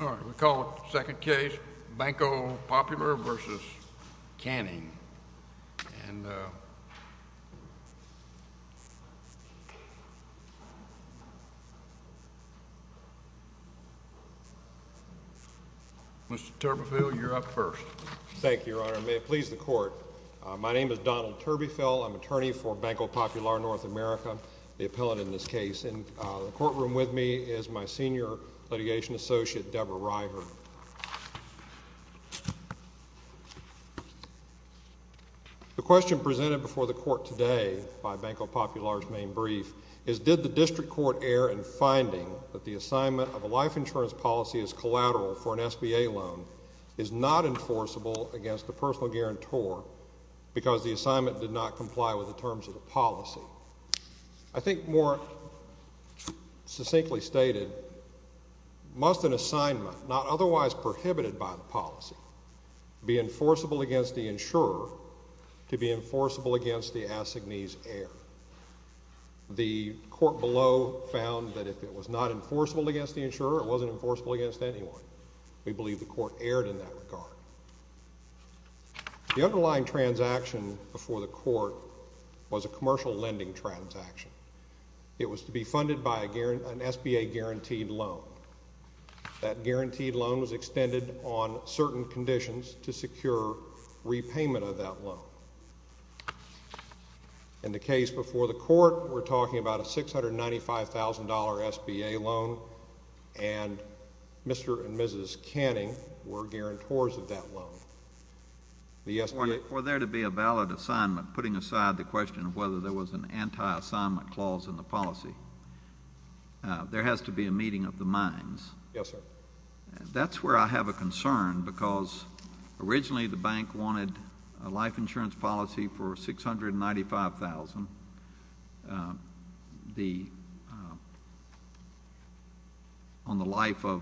All right, we'll call it the second case, Banco Popular v. Kanning. And Mr. Turbeville, you're up first. Thank you, Your Honor. May it please the court. My name is Donald Turbeville. I'm attorney for Banco Popular, North America, the appellate in this case. In the courtroom with me is my senior litigation associate, Deborah River. The question presented before the court today by Banco Popular's main brief is, did the district court err in finding that the assignment of a life insurance policy as collateral for an SBA loan is not enforceable against the personal guarantor because the assignment did not comply with the terms of the policy? I think more succinctly stated, must an assignment not otherwise prohibited by the policy be enforceable against the insurer to be enforceable against the assignee's heir? The court below found that if it was not enforceable against the insurer, it wasn't enforceable against anyone. We believe the court erred in that regard. The underlying transaction before the court was a commercial lending transaction. It was to be funded by an SBA guaranteed loan. That guaranteed loan was extended on certain conditions to secure repayment of that loan. In the case before the court, we're talking about a $695,000 SBA loan, and Mr. and Mrs. Canning were guarantors of that loan. Were there to be a valid assignment, putting aside the question of whether there was an anti-assignment clause in the policy, there has to be a meeting of the minds. Yes, sir. That's where I have a concern because originally the bank wanted a life insurance policy for $695,000. On the life of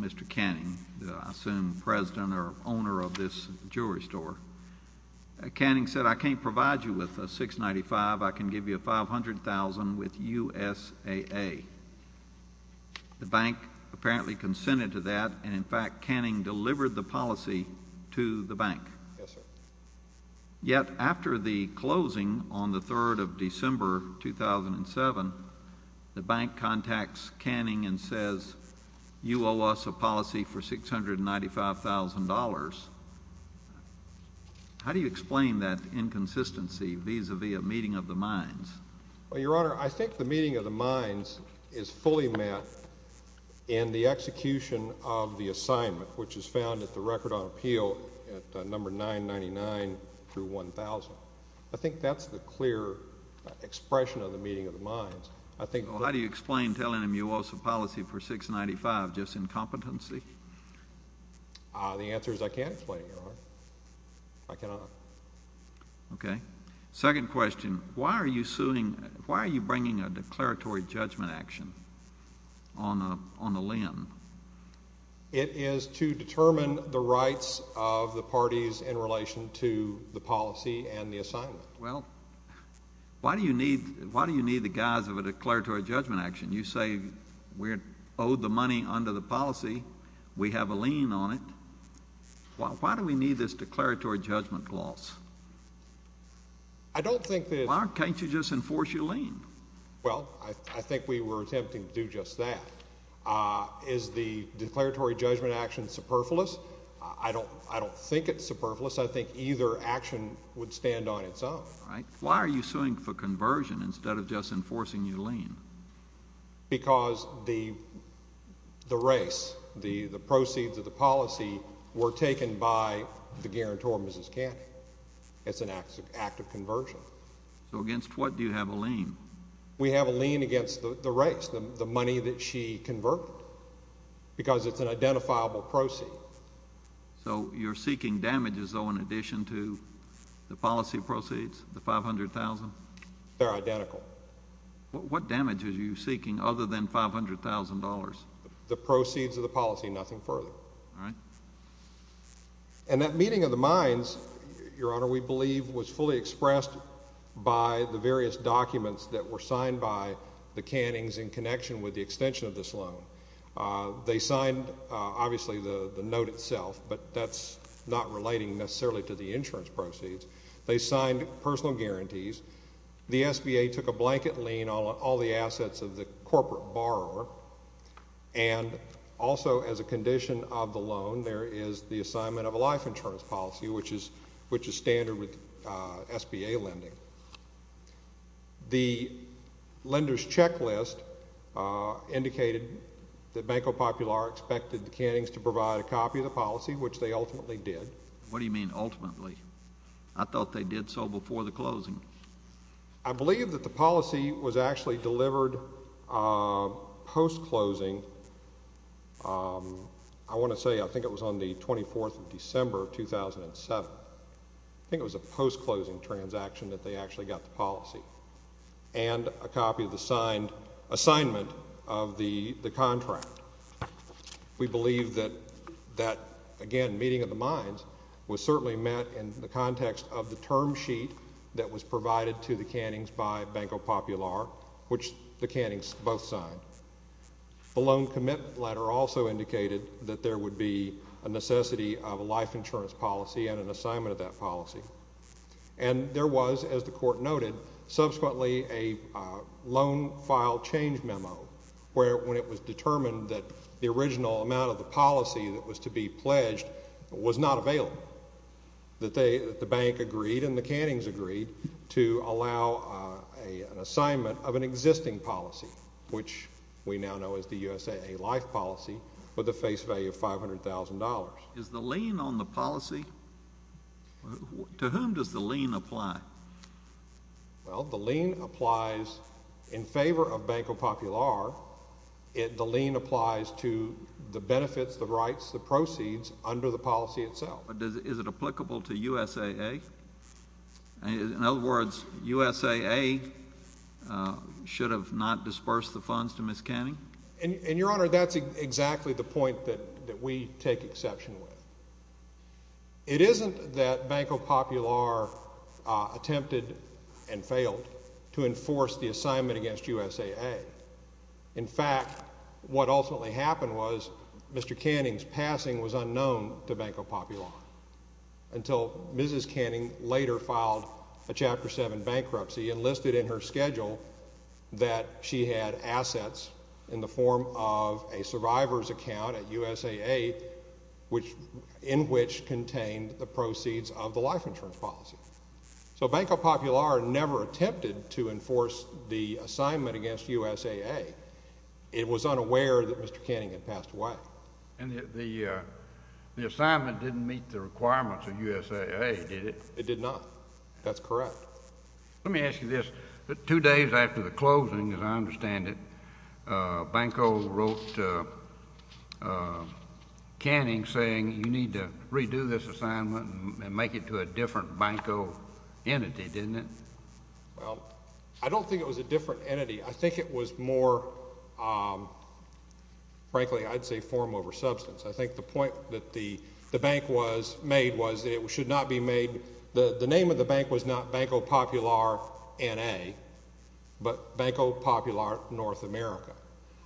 Mr. Canning, I assume president or owner of this jewelry store, Canning said, I can't provide you with a $695,000. I can give you a $500,000 with USAA. The bank apparently consented to that, and in fact, Canning delivered the policy to the bank. Yes, sir. Yet after the closing on the 3rd of December 2007, the bank contacts Canning and says, you owe us a policy for $695,000. How do you explain that inconsistency vis-a-vis a meeting of the minds? Well, Your Honor, I think the meeting of the minds is fully met in the execution of the assignment, which is found at the record on appeal at number 999 through 1000. I think that's the clear expression of the meeting of the minds. How do you explain telling them you owe us a policy for $695,000, just incompetency? The answer is I can't explain it, Your Honor. I cannot. Okay. Second question, why are you bringing a declaratory judgment action on a limb? It is to determine the rights of the parties in relation to the policy and the assignment. Well, why do you need the guise of a declaratory judgment action? You say we owe the money under the policy. We have a lien on it. Why do we need this declaratory judgment clause? I don't think that— Why can't you just enforce your lien? Well, I think we were attempting to do just that. Is the declaratory judgment action superfluous? I don't think it's superfluous. I think either action would stand on its own. All right. Why are you suing for conversion instead of just enforcing your lien? Because the race, the proceeds of the policy were taken by the guarantor, Mrs. Cannon. It's an act of conversion. So against what do you have a lien? We have a lien against the race, the money that she converted, because it's an identifiable proceed. So you're seeking damages, though, in addition to the policy proceeds, the $500,000? They're identical. What damages are you seeking other than $500,000? The proceeds of the policy, nothing further. All right. And that meeting of the minds, Your Honor, we believe was fully expressed by the various documents that were signed by the Cannings in connection with the extension of this loan. They signed, obviously, the note itself, but that's not relating necessarily to the insurance proceeds. They signed personal guarantees. The SBA took a blanket lien on all the assets of the corporate borrower, and also as a condition of the loan, there is the assignment of a life insurance policy, which is standard with SBA lending. The lender's checklist indicated that Banco Popular expected the Cannings to provide a copy of the policy, which they ultimately did. What do you mean ultimately? I thought they did so before the closing. I believe that the policy was actually delivered post-closing. I want to say I think it was on the 24th of December of 2007. I think it was a post-closing transaction that they actually got the policy and a copy of the assignment of the contract. We believe that, again, meeting of the minds was certainly met in the context of the term sheet that was provided to the Cannings by Banco Popular, which the Cannings both signed. The loan commitment letter also indicated that there would be a necessity of a life insurance policy and an assignment of that policy. And there was, as the Court noted, subsequently a loan file change memo, where when it was determined that the original amount of the policy that was to be pledged was not available, that the bank agreed and the Cannings agreed to allow an assignment of an existing policy, which we now know as the USAA life policy with a face value of $500,000. Is the lien on the policy? To whom does the lien apply? Well, the lien applies in favor of Banco Popular. The lien applies to the benefits, the rights, the proceeds under the policy itself. Is it applicable to USAA? In other words, USAA should have not dispersed the funds to Ms. Canning? And, Your Honor, that's exactly the point that we take exception with. It isn't that Banco Popular attempted and failed to enforce the assignment against USAA. In fact, what ultimately happened was Mr. Canning's passing was unknown to Banco Popular until Mrs. Canning later filed a Chapter 7 bankruptcy and listed in her schedule that she had assets in the form of a survivor's account at USAA, in which contained the proceeds of the life insurance policy. So Banco Popular never attempted to enforce the assignment against USAA. It was unaware that Mr. Canning had passed away. And the assignment didn't meet the requirements of USAA, did it? It did not. That's correct. Let me ask you this. Two days after the closing, as I understand it, Banco wrote Canning saying you need to redo this assignment and make it to a different Banco entity, didn't it? Well, I don't think it was a different entity. I think it was more, frankly, I'd say form over substance. I think the point that the bank was made was that it should not be made. The name of the bank was not Banco Popular N.A., but Banco Popular North America.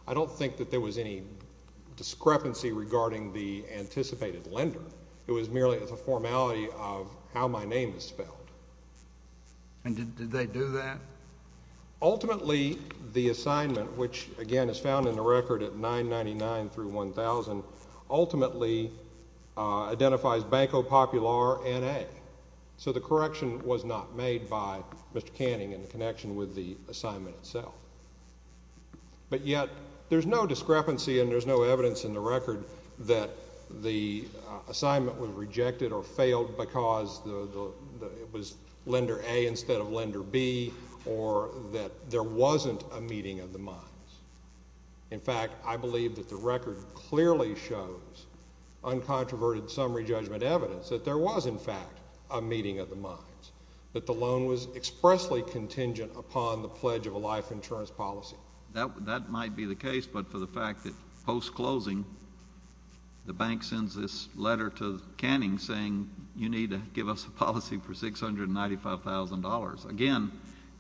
I don't think that there was any discrepancy regarding the anticipated lender. It was merely a formality of how my name is spelled. And did they do that? Ultimately, the assignment, which, again, is found in the record at 999 through 1000, ultimately identifies Banco Popular N.A. So the correction was not made by Mr. Canning in connection with the assignment itself. But yet there's no discrepancy and there's no evidence in the record that the assignment was rejected or failed because it was lender A instead of lender B or that there wasn't a meeting of the minds. In fact, I believe that the record clearly shows uncontroverted summary judgment evidence that there was, in fact, a meeting of the minds, that the loan was expressly contingent upon the pledge of a life insurance policy. That might be the case, but for the fact that post-closing, the bank sends this letter to Canning saying you need to give us a policy for $695,000. Again,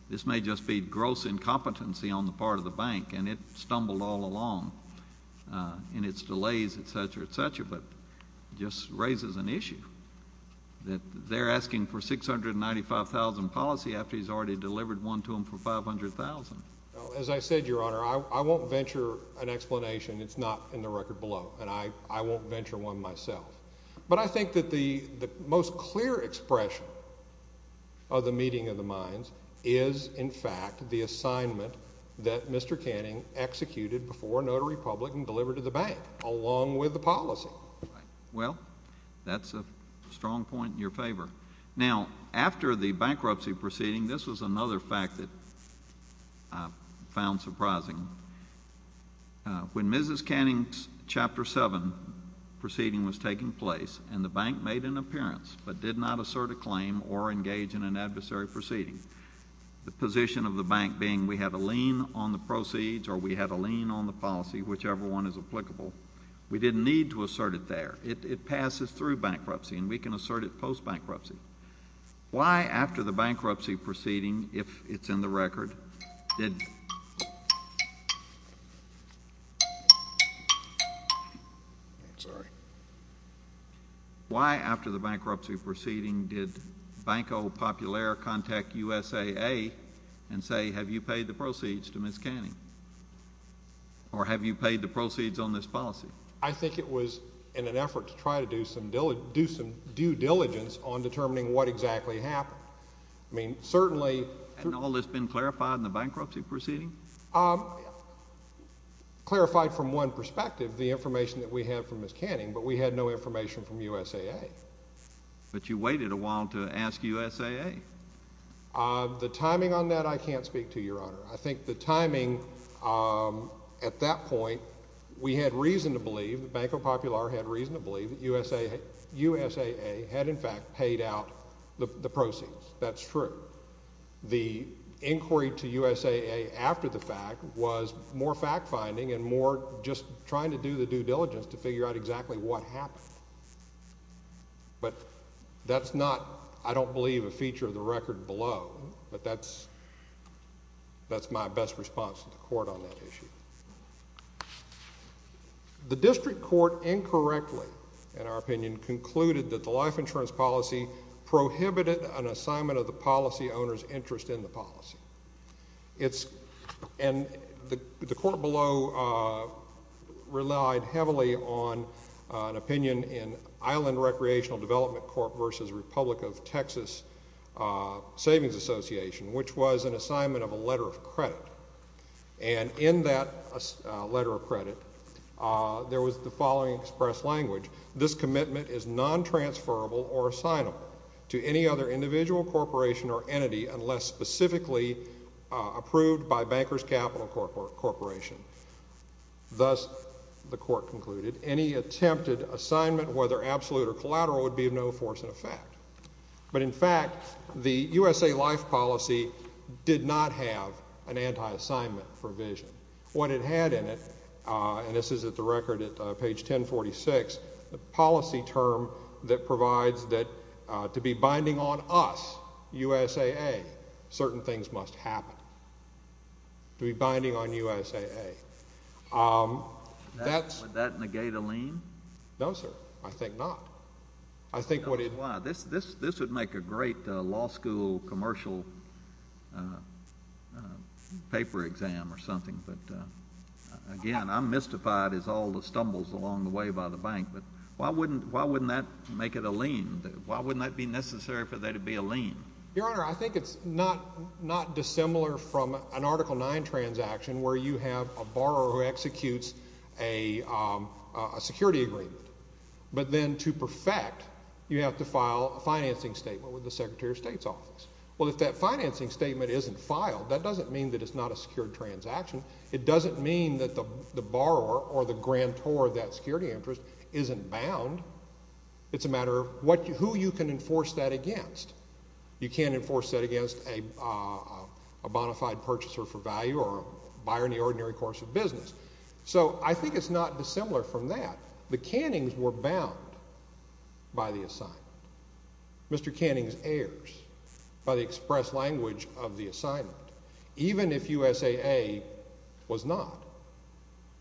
this may just be gross incompetency on the part of the bank, and it stumbled all along in its delays, et cetera, et cetera, but it just raises an issue that they're asking for $695,000 policy after he's already delivered one to them for $500,000. As I said, Your Honor, I won't venture an explanation. It's not in the record below, and I won't venture one myself. But I think that the most clear expression of the meeting of the minds is, in fact, the assignment that Mr. Canning executed before a notary publican delivered to the bank, along with the policy. Well, that's a strong point in your favor. Now, after the bankruptcy proceeding, this was another fact that I found surprising. When Mrs. Canning's Chapter 7 proceeding was taking place and the bank made an appearance but did not assert a claim or engage in an adversary proceeding, the position of the bank being we had a lien on the proceeds or we had a lien on the policy, whichever one is applicable, we didn't need to assert it there. It passes through bankruptcy, and we can assert it post-bankruptcy. Why, after the bankruptcy proceeding, if it's in the record, did— Why, after the bankruptcy proceeding, did Banco Popular contact USAA and say, Have you paid the proceeds to Ms. Canning, or have you paid the proceeds on this policy? I think it was in an effort to try to do some due diligence on determining what exactly happened. I mean, certainly— Hadn't all this been clarified in the bankruptcy proceeding? Clarified from one perspective, the information that we had from Ms. Canning, but we had no information from USAA. But you waited a while to ask USAA. The timing on that I can't speak to, Your Honor. I think the timing at that point, we had reason to believe, Banco Popular had reason to believe that USAA had in fact paid out the proceeds. That's true. The inquiry to USAA after the fact was more fact-finding and more just trying to do the due diligence to figure out exactly what happened. But that's not, I don't believe, a feature of the record below. But that's my best response to the court on that issue. The district court incorrectly, in our opinion, concluded that the life insurance policy prohibited an assignment of the policy owner's interest in the policy. And the court below relied heavily on an opinion in which was an assignment of a letter of credit. And in that letter of credit, there was the following express language. This commitment is non-transferable or assignable to any other individual, corporation, or entity unless specifically approved by Bankers Capital Corporation. Thus, the court concluded, any attempted assignment, whether absolute or collateral, would be of no force in effect. But, in fact, the USA Life policy did not have an anti-assignment provision. What it had in it, and this is at the record at page 1046, the policy term that provides that to be binding on us, USAA, certain things must happen. To be binding on USAA. Would that negate a lien? No, sir. I think not. This would make a great law school commercial paper exam or something. But, again, I'm mystified as all the stumbles along the way by the bank. But why wouldn't that make it a lien? Why wouldn't that be necessary for there to be a lien? Your Honor, I think it's not dissimilar from an Article IX transaction where you have a borrower who executes a security agreement, but then to perfect, you have to file a financing statement with the Secretary of State's office. Well, if that financing statement isn't filed, that doesn't mean that it's not a secured transaction. It doesn't mean that the borrower or the grantor of that security interest isn't bound. It's a matter of who you can enforce that against. You can't enforce that against a bona fide purchaser for value or a buyer in the ordinary course of business. So, I think it's not dissimilar from that. The cannings were bound by the assignment. Mr. Cannings errs by the express language of the assignment, even if USAA was not.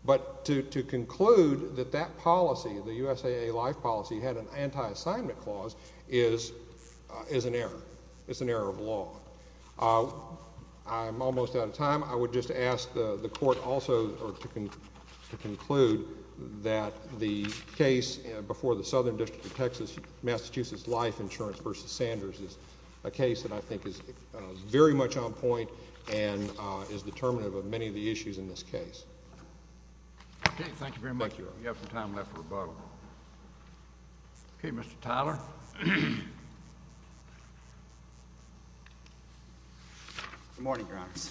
But to conclude that that policy, the USAA life policy, had an anti-assignment clause is an error. It's an error of law. I'm almost out of time. I would just ask the Court also to conclude that the case before the Southern District of Texas, Massachusetts Life Insurance v. Sanders, is a case that I think is very much on point and is determinative of many of the issues in this case. Okay, thank you very much. Thank you. We have some time left for rebuttal. Okay, Mr. Tyler. Good morning, Your Honors.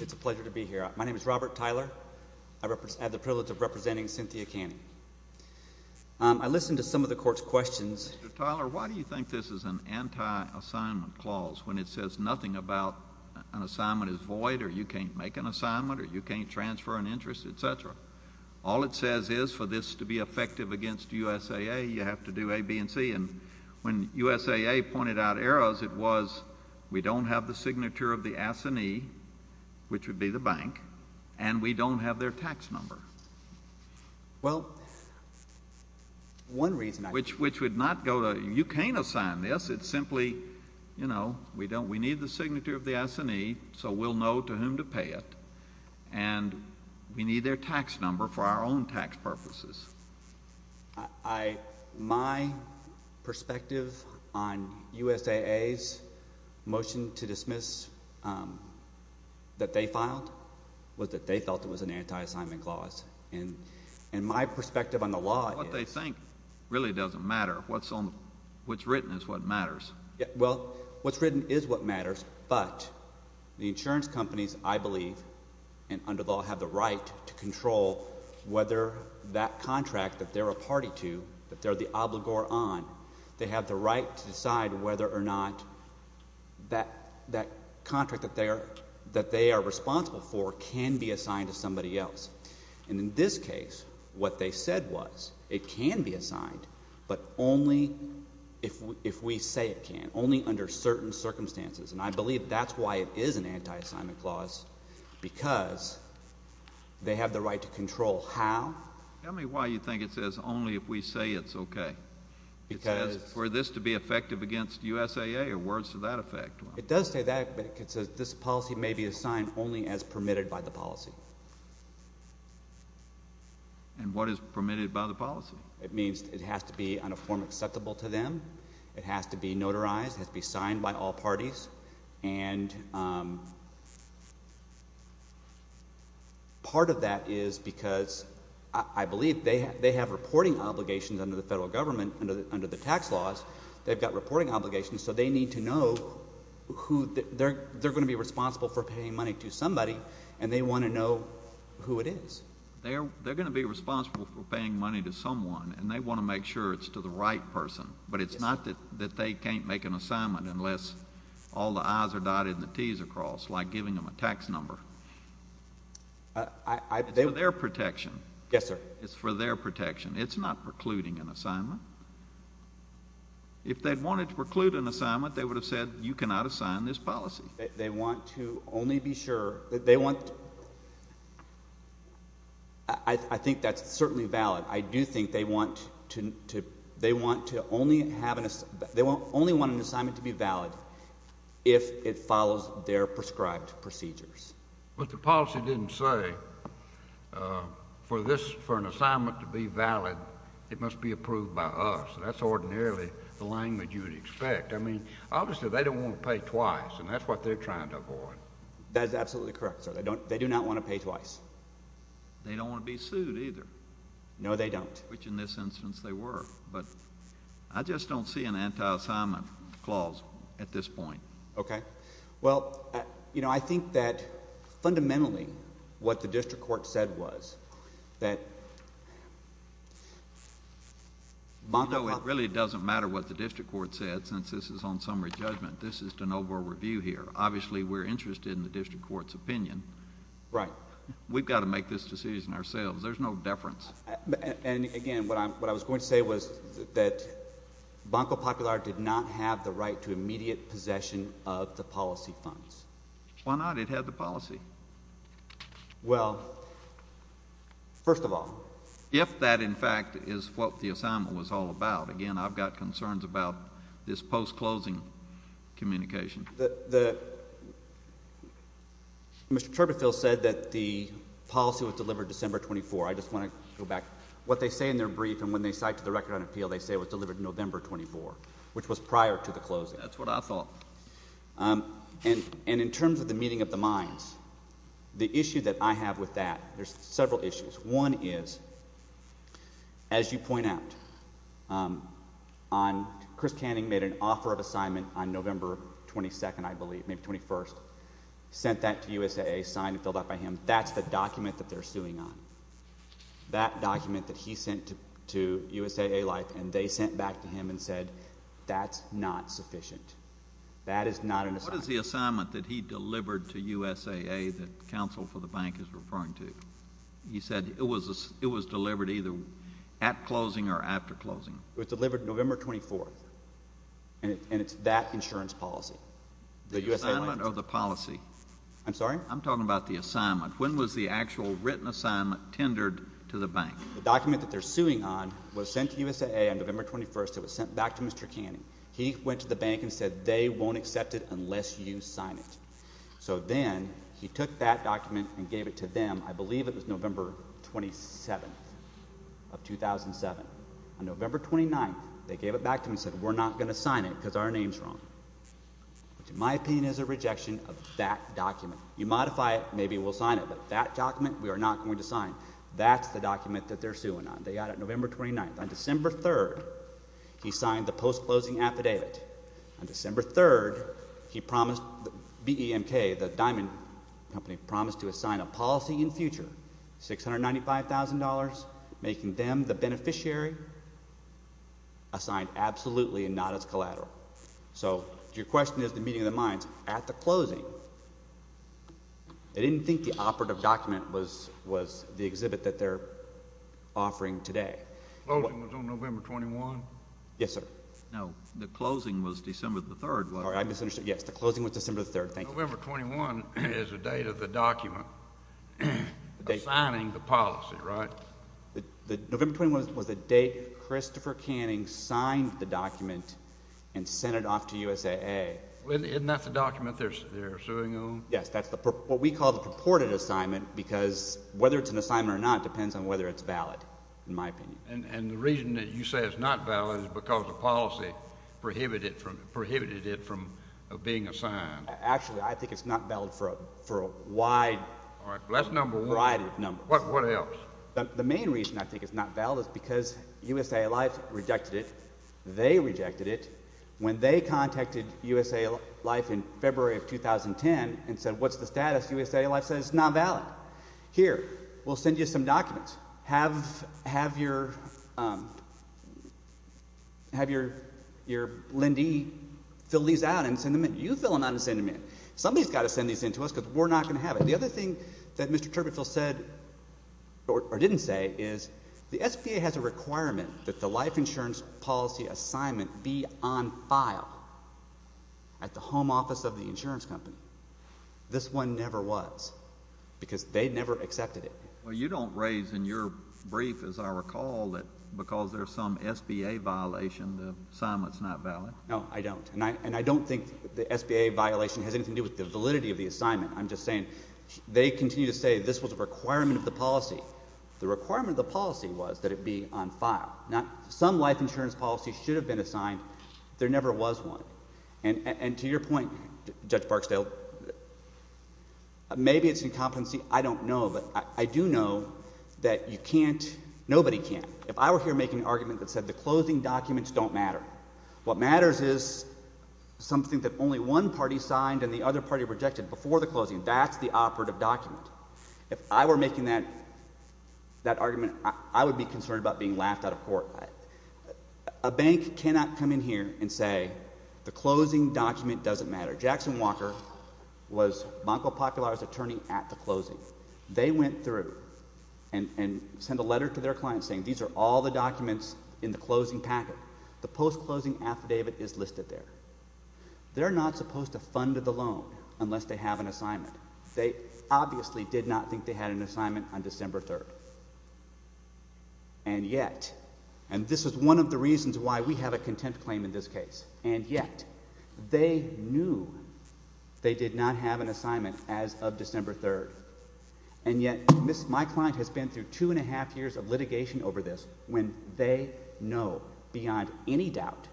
It's a pleasure to be here. My name is Robert Tyler. I have the privilege of representing Cynthia Canning. I listened to some of the Court's questions. Mr. Tyler, why do you think this is an anti-assignment clause when it says nothing about an assignment is void or you can't make an assignment or you can't transfer an interest, et cetera? All it says is for this to be effective against USAA, you have to do A, B, and C. And when USAA pointed out errors, it was we don't have the signature of the S&E, which would be the bank, and we don't have their tax number. Well, one reason I— Which would not go to—you can't assign this. It's simply, you know, we need the signature of the S&E so we'll know to whom to pay it, and we need their tax number for our own tax purposes. My perspective on USAA's motion to dismiss that they filed was that they felt it was an anti-assignment clause. And my perspective on the law is— What they think really doesn't matter. What's written is what matters. Well, what's written is what matters, but the insurance companies, I believe, and under the law, have the right to control whether that contract that they're a party to, that they're the obligor on, they have the right to decide whether or not that contract that they are responsible for can be assigned to somebody else. And in this case, what they said was it can be assigned, but only if we say it can, only under certain circumstances. And I believe that's why it is an anti-assignment clause, because they have the right to control how— Tell me why you think it says only if we say it's okay. Because— It says for this to be effective against USAA or words to that effect. It does say that, but it says this policy may be assigned only as permitted by the policy. And what is permitted by the policy? It means it has to be on a form acceptable to them. It has to be notarized. It has to be signed by all parties. And part of that is because I believe they have reporting obligations under the federal government, under the tax laws. They've got reporting obligations, so they need to know who—they're going to be responsible for paying money to somebody, and they want to know who it is. They're going to be responsible for paying money to someone, and they want to make sure it's to the right person. But it's not that they can't make an assignment unless all the I's are dotted and the T's are crossed, like giving them a tax number. It's for their protection. Yes, sir. It's for their protection. It's not precluding an assignment. If they wanted to preclude an assignment, they would have said you cannot assign this policy. They want to only be sure—they want—I think that's certainly valid. I do think they want to only have an—they only want an assignment to be valid if it follows their prescribed procedures. But the policy didn't say for this—for an assignment to be valid, it must be approved by us. That's ordinarily the language you would expect. I mean, obviously they don't want to pay twice, and that's what they're trying to avoid. That is absolutely correct, sir. They do not want to pay twice. They don't want to be sued either. No, they don't. Which in this instance they were. But I just don't see an anti-assignment clause at this point. Okay. Well, you know, I think that fundamentally what the district court said was that— You know, it really doesn't matter what the district court said since this is on summary judgment. This is de novo review here. Obviously, we're interested in the district court's opinion. Right. We've got to make this decision ourselves. There's no deference. And, again, what I was going to say was that Banco Popular did not have the right to immediate possession of the policy funds. Why not? It had the policy. Well, first of all— If that, in fact, is what the assignment was all about. Again, I've got concerns about this post-closing communication. Mr. Turbeville said that the policy was delivered December 24. I just want to go back. What they say in their brief and when they cite to the Record on Appeal, they say it was delivered November 24, which was prior to the closing. That's what I thought. And in terms of the meeting of the minds, the issue that I have with that, there's several issues. One is, as you point out, Chris Canning made an offer of assignment on November 22, I believe, maybe 21st, sent that to USAA, signed and filled out by him. That's the document that they're suing on, that document that he sent to USAA-Life, and they sent back to him and said that's not sufficient. That is not an assignment. What is the assignment that he delivered to USAA that counsel for the bank is referring to? He said it was delivered either at closing or after closing. It was delivered November 24, and it's that insurance policy. The assignment or the policy? I'm sorry? I'm talking about the assignment. When was the actual written assignment tendered to the bank? The document that they're suing on was sent to USAA on November 21st. It was sent back to Mr. Canning. He went to the bank and said they won't accept it unless you sign it. So then he took that document and gave it to them. I believe it was November 27 of 2007. On November 29, they gave it back to him and said we're not going to sign it because our name is wrong, which in my opinion is a rejection of that document. You modify it, maybe we'll sign it, but that document we are not going to sign. That's the document that they're suing on. They got it November 29. On December 3, he signed the post-closing affidavit. On December 3, BEMK, the diamond company, promised to assign a policy in future, $695,000, making them the beneficiary assigned absolutely and not as collateral. So your question is the meeting of the minds. At the closing, they didn't think the operative document was the exhibit that they're offering today. Closing was on November 21? Yes, sir. No, the closing was December 3. Sorry, I misunderstood. Yes, the closing was December 3. Thank you. November 21 is the date of the document assigning the policy, right? November 21 was the date Christopher Canning signed the document and sent it off to USAA. Isn't that the document they're suing on? Yes, that's what we call the purported assignment because whether it's an assignment or not depends on whether it's valid, in my opinion. And the reason that you say it's not valid is because the policy prohibited it from being assigned. Actually, I think it's not valid for a wide variety of numbers. What else? The main reason I think it's not valid is because USAA Life rejected it. They rejected it when they contacted USAA Life in February of 2010 and said, what's the status? USAA Life said it's not valid. Here, we'll send you some documents. Have your lendee fill these out and send them in. You fill them out and send them in. Somebody's got to send these in to us because we're not going to have it. The other thing that Mr. Turbeville said or didn't say is the SBA has a requirement that the life insurance policy assignment be on file at the home office of the insurance company. This one never was because they never accepted it. Well, you don't raise in your brief, as I recall, that because there's some SBA violation, the assignment's not valid. No, I don't. And I don't think the SBA violation has anything to do with the validity of the assignment. I'm just saying they continue to say this was a requirement of the policy. The requirement of the policy was that it be on file. Now, some life insurance policy should have been assigned. There never was one. And to your point, Judge Barksdale, maybe it's an incompetency. I don't know. But I do know that you can't, nobody can. If I were here making an argument that said the closing documents don't matter, what matters is something that only one party signed and the other party rejected before the closing. That's the operative document. If I were making that argument, I would be concerned about being laughed out of court. A bank cannot come in here and say the closing document doesn't matter. Jackson Walker was Banco Popular's attorney at the closing. They went through and sent a letter to their client saying these are all the documents in the closing packet. The post-closing affidavit is listed there. They're not supposed to fund the loan unless they have an assignment. They obviously did not think they had an assignment on December 3rd. And yet, and this is one of the reasons why we have a contempt claim in this case, and yet they knew they did not have an assignment as of December 3rd. And yet my client has been through two and a half years of litigation over this when they know beyond any doubt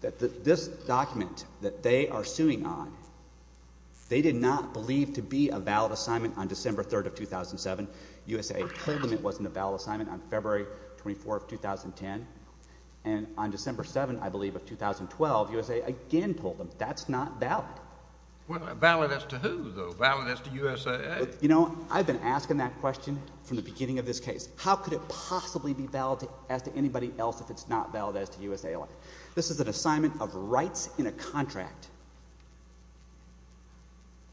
that this document that they are suing on, they did not believe to be a valid assignment on December 3rd of 2007. USAA told them it wasn't a valid assignment on February 24th, 2010. And on December 7th, I believe, of 2012, USAA again told them that's not valid. Well, valid as to who, though? Valid as to USAA? You know, I've been asking that question from the beginning of this case. How could it possibly be valid as to anybody else if it's not valid as to USAA? This is an assignment of rights in a contract.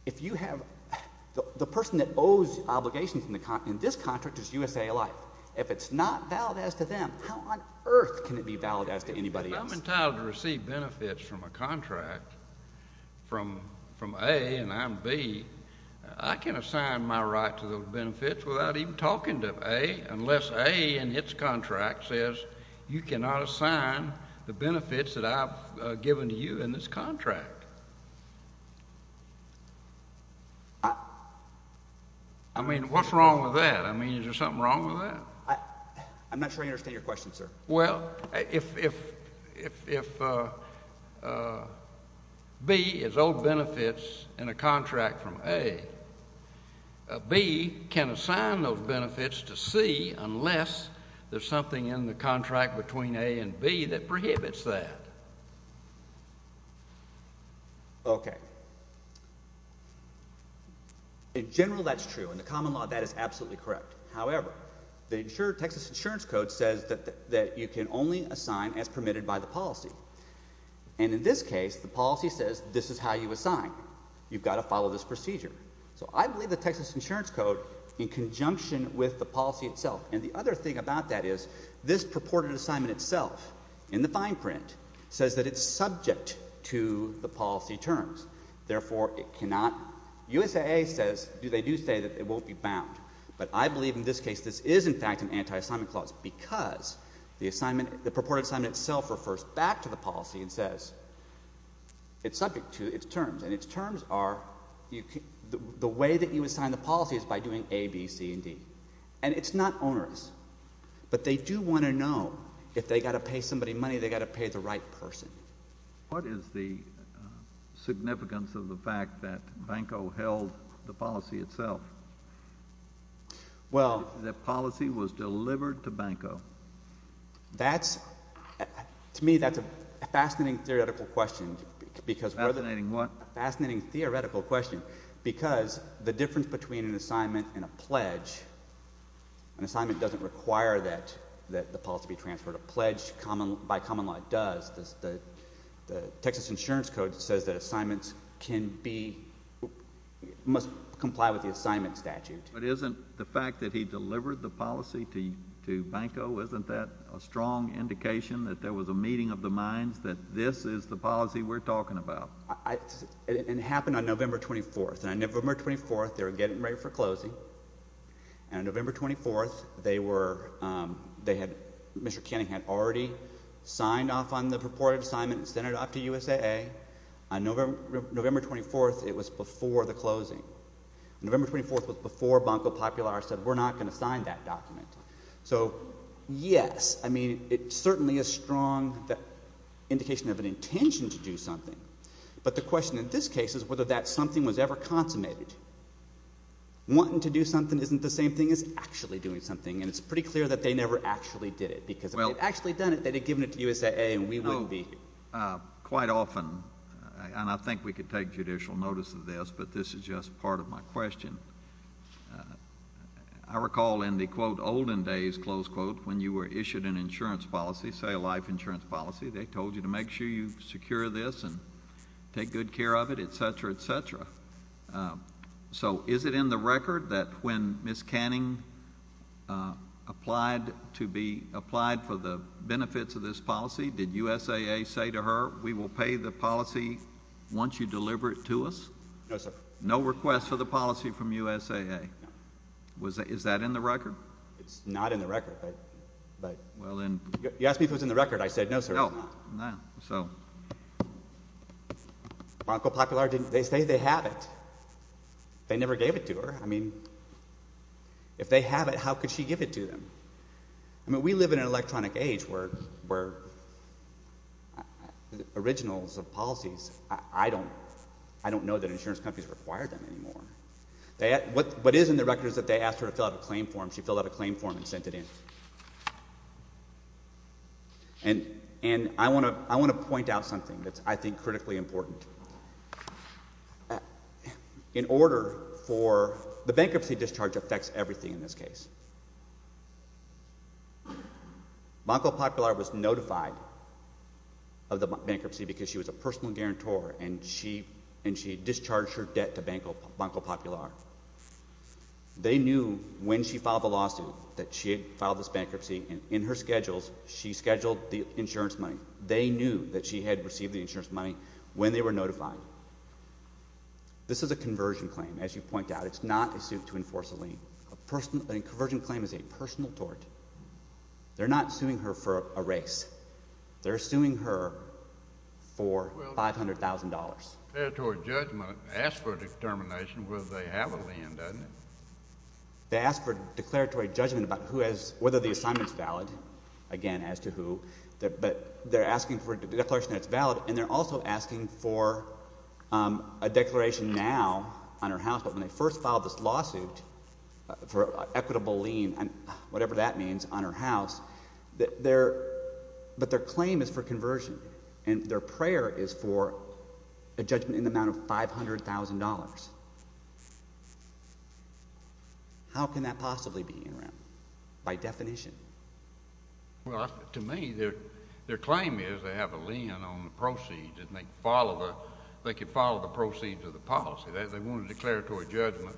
If you have—the person that owes obligations in this contract is USAA life. If it's not valid as to them, how on earth can it be valid as to anybody else? If I'm entitled to receive benefits from a contract from A and I'm B, I can assign my right to those benefits without even talking to A unless A in its contract says you cannot assign the benefits that I've given to you in this contract. I mean, what's wrong with that? I mean, is there something wrong with that? I'm not sure I understand your question, sir. Well, if B is owed benefits in a contract from A, B can assign those benefits to C unless there's something in the contract between A and B that prohibits that. Okay. In general, that's true. In the common law, that is absolutely correct. However, the Texas Insurance Code says that you can only assign as permitted by the policy. And in this case, the policy says this is how you assign. You've got to follow this procedure. So I believe the Texas Insurance Code, in conjunction with the policy itself—and the other thing about that is this purported assignment itself in the fine print says that it's subject to the policy terms. Therefore, it cannot—USAA says—they do say that it won't be bound. But I believe in this case this is, in fact, an anti-assignment clause because the assignment—the purported assignment itself refers back to the policy and says it's subject to its terms. And its terms are—the way that you assign the policy is by doing A, B, C, and D. And it's not onerous. But they do want to know if they've got to pay somebody money, they've got to pay the right person. What is the significance of the fact that Banco held the policy itself? Well— The policy was delivered to Banco. That's—to me, that's a fascinating theoretical question because— Fascinating what? A fascinating theoretical question because the difference between an assignment and a pledge—an assignment doesn't require that the policy be transferred. A pledge by common law does. The Texas Insurance Code says that assignments can be—must comply with the assignment statute. But isn't the fact that he delivered the policy to Banco—isn't that a strong indication that there was a meeting of the minds that this is the policy we're talking about? It happened on November 24th. And on November 24th they were getting ready for closing. And on November 24th they were—they had—Mr. Kenning had already signed off on the purported assignment and sent it off to USAA. On November 24th, it was before the closing. November 24th was before Banco Popular said we're not going to sign that document. So, yes, I mean it certainly is a strong indication of an intention to do something. But the question in this case is whether that something was ever consummated. Wanting to do something isn't the same thing as actually doing something. And it's pretty clear that they never actually did it because if they'd actually done it, they'd have given it to USAA and we wouldn't be here. Well, quite often—and I think we could take judicial notice of this, but this is just part of my question. I recall in the, quote, olden days, close quote, when you were issued an insurance policy, say a life insurance policy, they told you to make sure you secure this and take good care of it, et cetera, et cetera. So is it in the record that when Ms. Canning applied to be—applied for the benefits of this policy, did USAA say to her we will pay the policy once you deliver it to us? No, sir. No request for the policy from USAA? No. Is that in the record? It's not in the record, but— Well, then— You asked me if it was in the record. I said no, sir, it's not. Well, they say they have it. They never gave it to her. I mean if they have it, how could she give it to them? I mean we live in an electronic age where originals of policies, I don't know that insurance companies require them anymore. What is in the record is that they asked her to fill out a claim form. She filled out a claim form and sent it in. And I want to point out something that I think is critically important. In order for—the bankruptcy discharge affects everything in this case. Banco Popular was notified of the bankruptcy because she was a personal guarantor, and she discharged her debt to Banco Popular. They knew when she filed the lawsuit that she had filed this bankruptcy, and in her schedules, she scheduled the insurance money. They knew that she had received the insurance money when they were notified. This is a conversion claim, as you point out. It's not a suit to enforce a lien. A conversion claim is a personal tort. They're not suing her for a race. They're suing her for $500,000. Declaratory judgment asks for a determination whether they have a lien, doesn't it? They ask for declaratory judgment about who has—whether the assignment is valid, again, as to who. But they're asking for a declaration that it's valid, and they're also asking for a declaration now on her house. But when they first filed this lawsuit for an equitable lien, whatever that means, on her house, their—but their claim is for conversion. And their prayer is for a judgment in the amount of $500,000. How can that possibly be, by definition? Well, to me, their claim is they have a lien on the proceeds, and they follow the—they can follow the proceeds of the policy. They want a declaratory judgment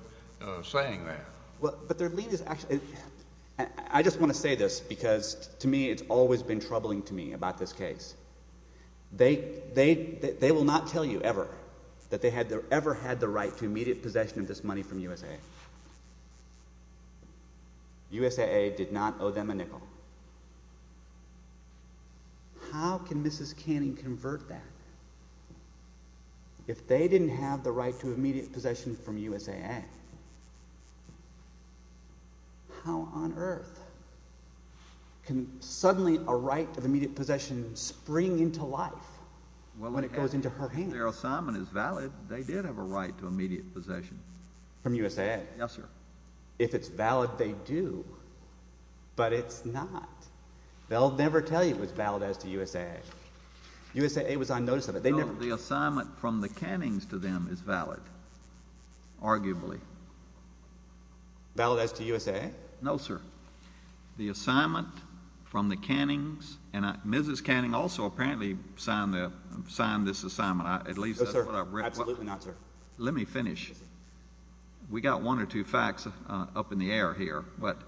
saying that. But their lien is actually—I just want to say this because, to me, it's always been troubling to me about this case. They will not tell you ever that they ever had the right to immediate possession of this money from USAA. USAA did not owe them a nickel. How can Mrs. Canning convert that if they didn't have the right to immediate possession from USAA? How on earth can suddenly a right to immediate possession spring into life when it goes into her hands? Well, if their assignment is valid, they did have a right to immediate possession. From USAA? Yes, sir. If it's valid, they do, but it's not. They'll never tell you it was valid as to USAA. USAA was on notice of it. No, the assignment from the Cannings to them is valid, arguably. Valid as to USAA? No, sir. The assignment from the Cannings—and Mrs. Canning also apparently signed this assignment. No, sir. Absolutely not, sir. Let me finish. We got one or two facts up in the air here, but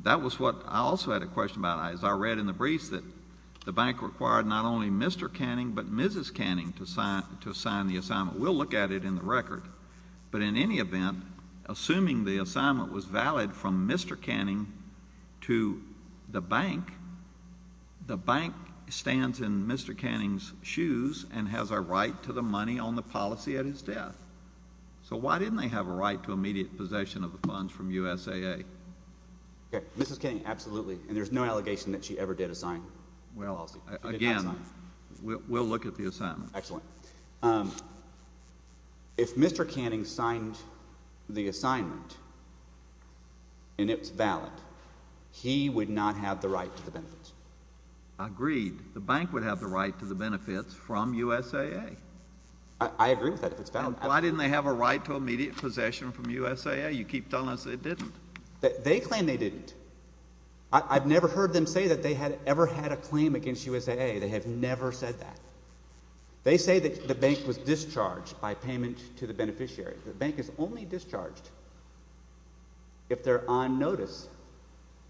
that was what I also had a question about. I read in the briefs that the bank required not only Mr. Canning but Mrs. Canning to sign the assignment. We'll look at it in the record. But in any event, assuming the assignment was valid from Mr. Canning to the bank, the bank stands in Mr. Canning's shoes and has a right to the money on the policy at his death. So why didn't they have a right to immediate possession of the funds from USAA? Okay. Mrs. Canning, absolutely, and there's no allegation that she ever did assign. Well, again, we'll look at the assignment. Excellent. If Mr. Canning signed the assignment and it was valid, he would not have the right to the benefits. Agreed. The bank would have the right to the benefits from USAA. I agree with that if it's valid. Why didn't they have a right to immediate possession from USAA? You keep telling us they didn't. They claim they didn't. I've never heard them say that they had ever had a claim against USAA. They have never said that. They say that the bank was discharged by payment to the beneficiary. The bank is only discharged if they're on notice,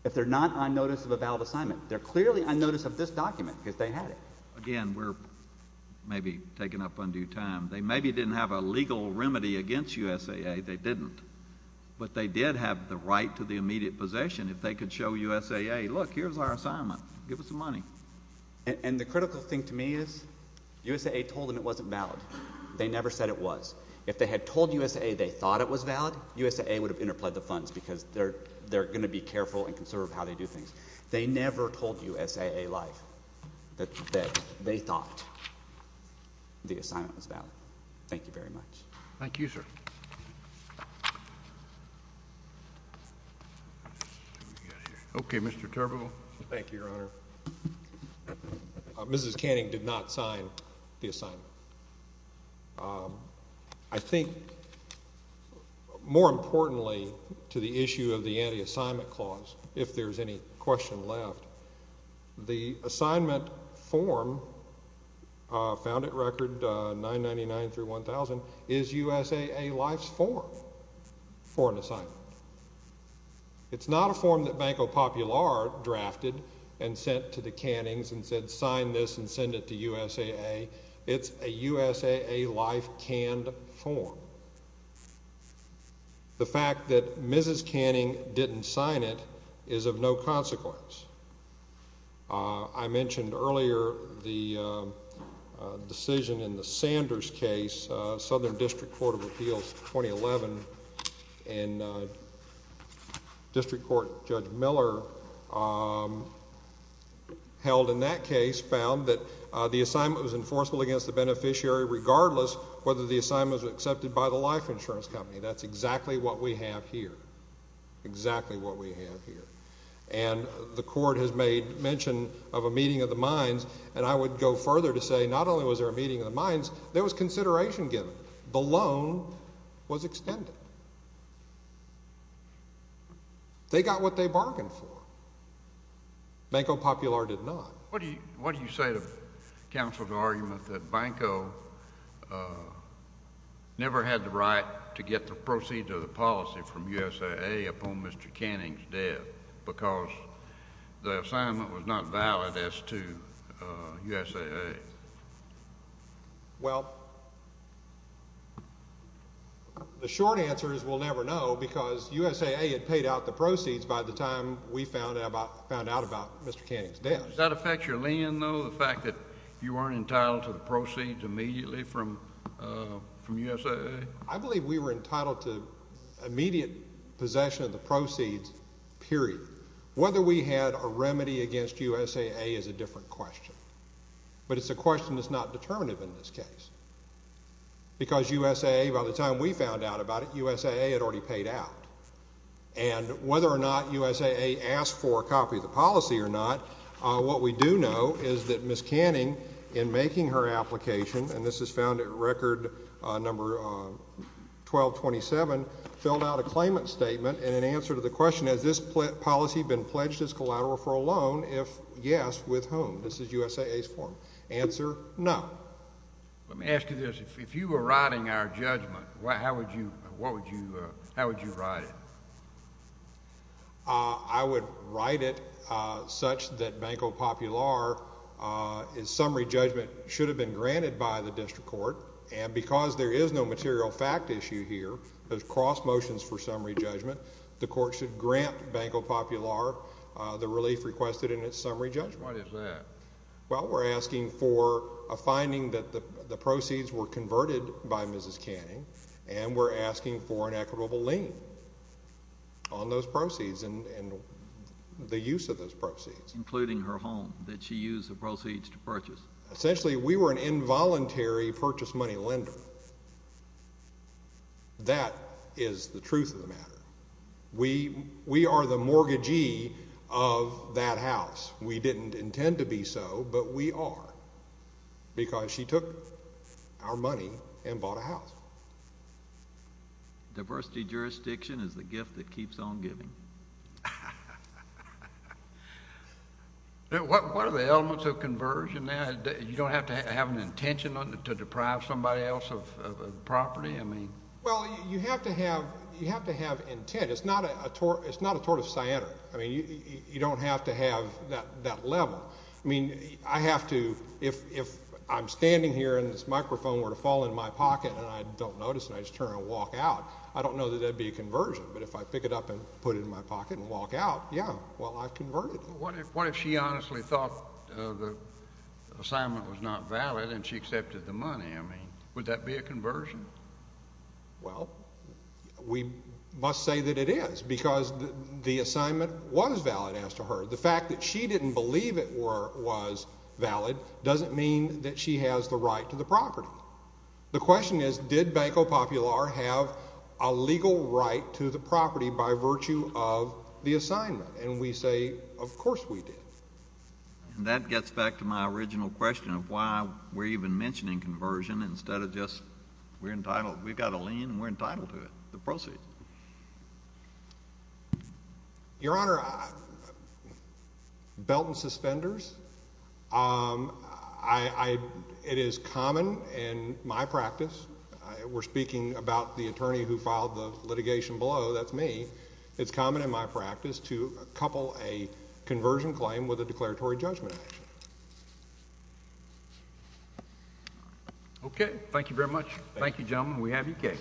if they're not on notice of a valid assignment. They're clearly on notice of this document because they had it. Again, we're maybe taking up undue time. They maybe didn't have a legal remedy against USAA. They didn't. But they did have the right to the immediate possession if they could show USAA, look, here's our assignment. Give us the money. And the critical thing to me is USAA told them it wasn't valid. They never said it was. If they had told USAA they thought it was valid, USAA would have interpled the funds because they're going to be careful and conservative how they do things. They never told USAA live that they thought the assignment was valid. Thank you very much. Thank you, sir. Okay, Mr. Turbeville. Thank you, Your Honor. Mrs. Canning did not sign the assignment. I think more importantly to the issue of the anti-assignment clause, if there's any question left, the assignment form found at Record 999 through 1000 is USAA Life's form for an assignment. It's not a form that Banco Popular drafted and sent to the Cannings and said sign this and send it to USAA. It's a USAA Life canned form. The fact that Mrs. Canning didn't sign it is of no consequence. I mentioned earlier the decision in the Sanders case, Southern District Court of Appeals, 2011, and District Court Judge Miller held in that case found that the assignment was enforceable against the beneficiary, regardless whether the assignment was accepted by the life insurance company. That's exactly what we have here. Exactly what we have here. And the court has made mention of a meeting of the minds, and I would go further to say not only was there a meeting of the minds, there was consideration given. The loan was extended. They got what they bargained for. Banco Popular did not. What do you say to counsel's argument that Banco never had the right to get the proceeds of the policy from USAA upon Mr. Canning's death because the assignment was not valid as to USAA? Well, the short answer is we'll never know because USAA had paid out the proceeds by the time we found out about Mr. Canning's death. Does that affect your lien, though, the fact that you weren't entitled to the proceeds immediately from USAA? I believe we were entitled to immediate possession of the proceeds, period. Whether we had a remedy against USAA is a different question. But it's a question that's not determinative in this case because USAA, by the time we found out about it, USAA had already paid out. And whether or not USAA asked for a copy of the policy or not, what we do know is that Ms. Canning, in making her application, and this is found at record number 1227, filled out a claimant statement and in answer to the question, has this policy been pledged as collateral for a loan? If yes, with whom? This is USAA's form. Answer, no. Let me ask you this. If you were writing our judgment, how would you write it? I would write it such that Banco Popular's summary judgment should have been granted by the district court. And because there is no material fact issue here, there's cross motions for summary judgment, the court should grant Banco Popular the relief requested in its summary judgment. What is that? Well, we're asking for a finding that the proceeds were converted by Mrs. Canning, and we're asking for an equitable lien on those proceeds and the use of those proceeds. Including her home that she used the proceeds to purchase. Essentially, we were an involuntary purchase money lender. That is the truth of the matter. We are the mortgagee of that house. We didn't intend to be so, but we are. Because she took our money and bought a house. Diversity jurisdiction is the gift that keeps on giving. What are the elements of conversion there? You don't have to have an intention to deprive somebody else of property? Well, you have to have intent. It's not a tort of cyanide. I mean, you don't have to have that level. I mean, I have to, if I'm standing here and this microphone were to fall in my pocket and I don't notice and I just turn and walk out, I don't know that that would be a conversion. But if I pick it up and put it in my pocket and walk out, yeah, well, I've converted. What if she honestly thought the assignment was not valid and she accepted the money? I mean, would that be a conversion? Well, we must say that it is because the assignment was valid as to her. The fact that she didn't believe it was valid doesn't mean that she has the right to the property. The question is, did Banco Popular have a legal right to the property by virtue of the assignment? And we say, of course we did. And that gets back to my original question of why we're even mentioning conversion instead of just we're entitled. We've got a lien and we're entitled to it, the proceeds. Your Honor, belt and suspenders, it is common in my practice. We're speaking about the attorney who filed the litigation below, that's me. It's common in my practice to couple a conversion claim with a declaratory judgment. Okay. Thank you very much. Thank you, gentlemen. We have your case.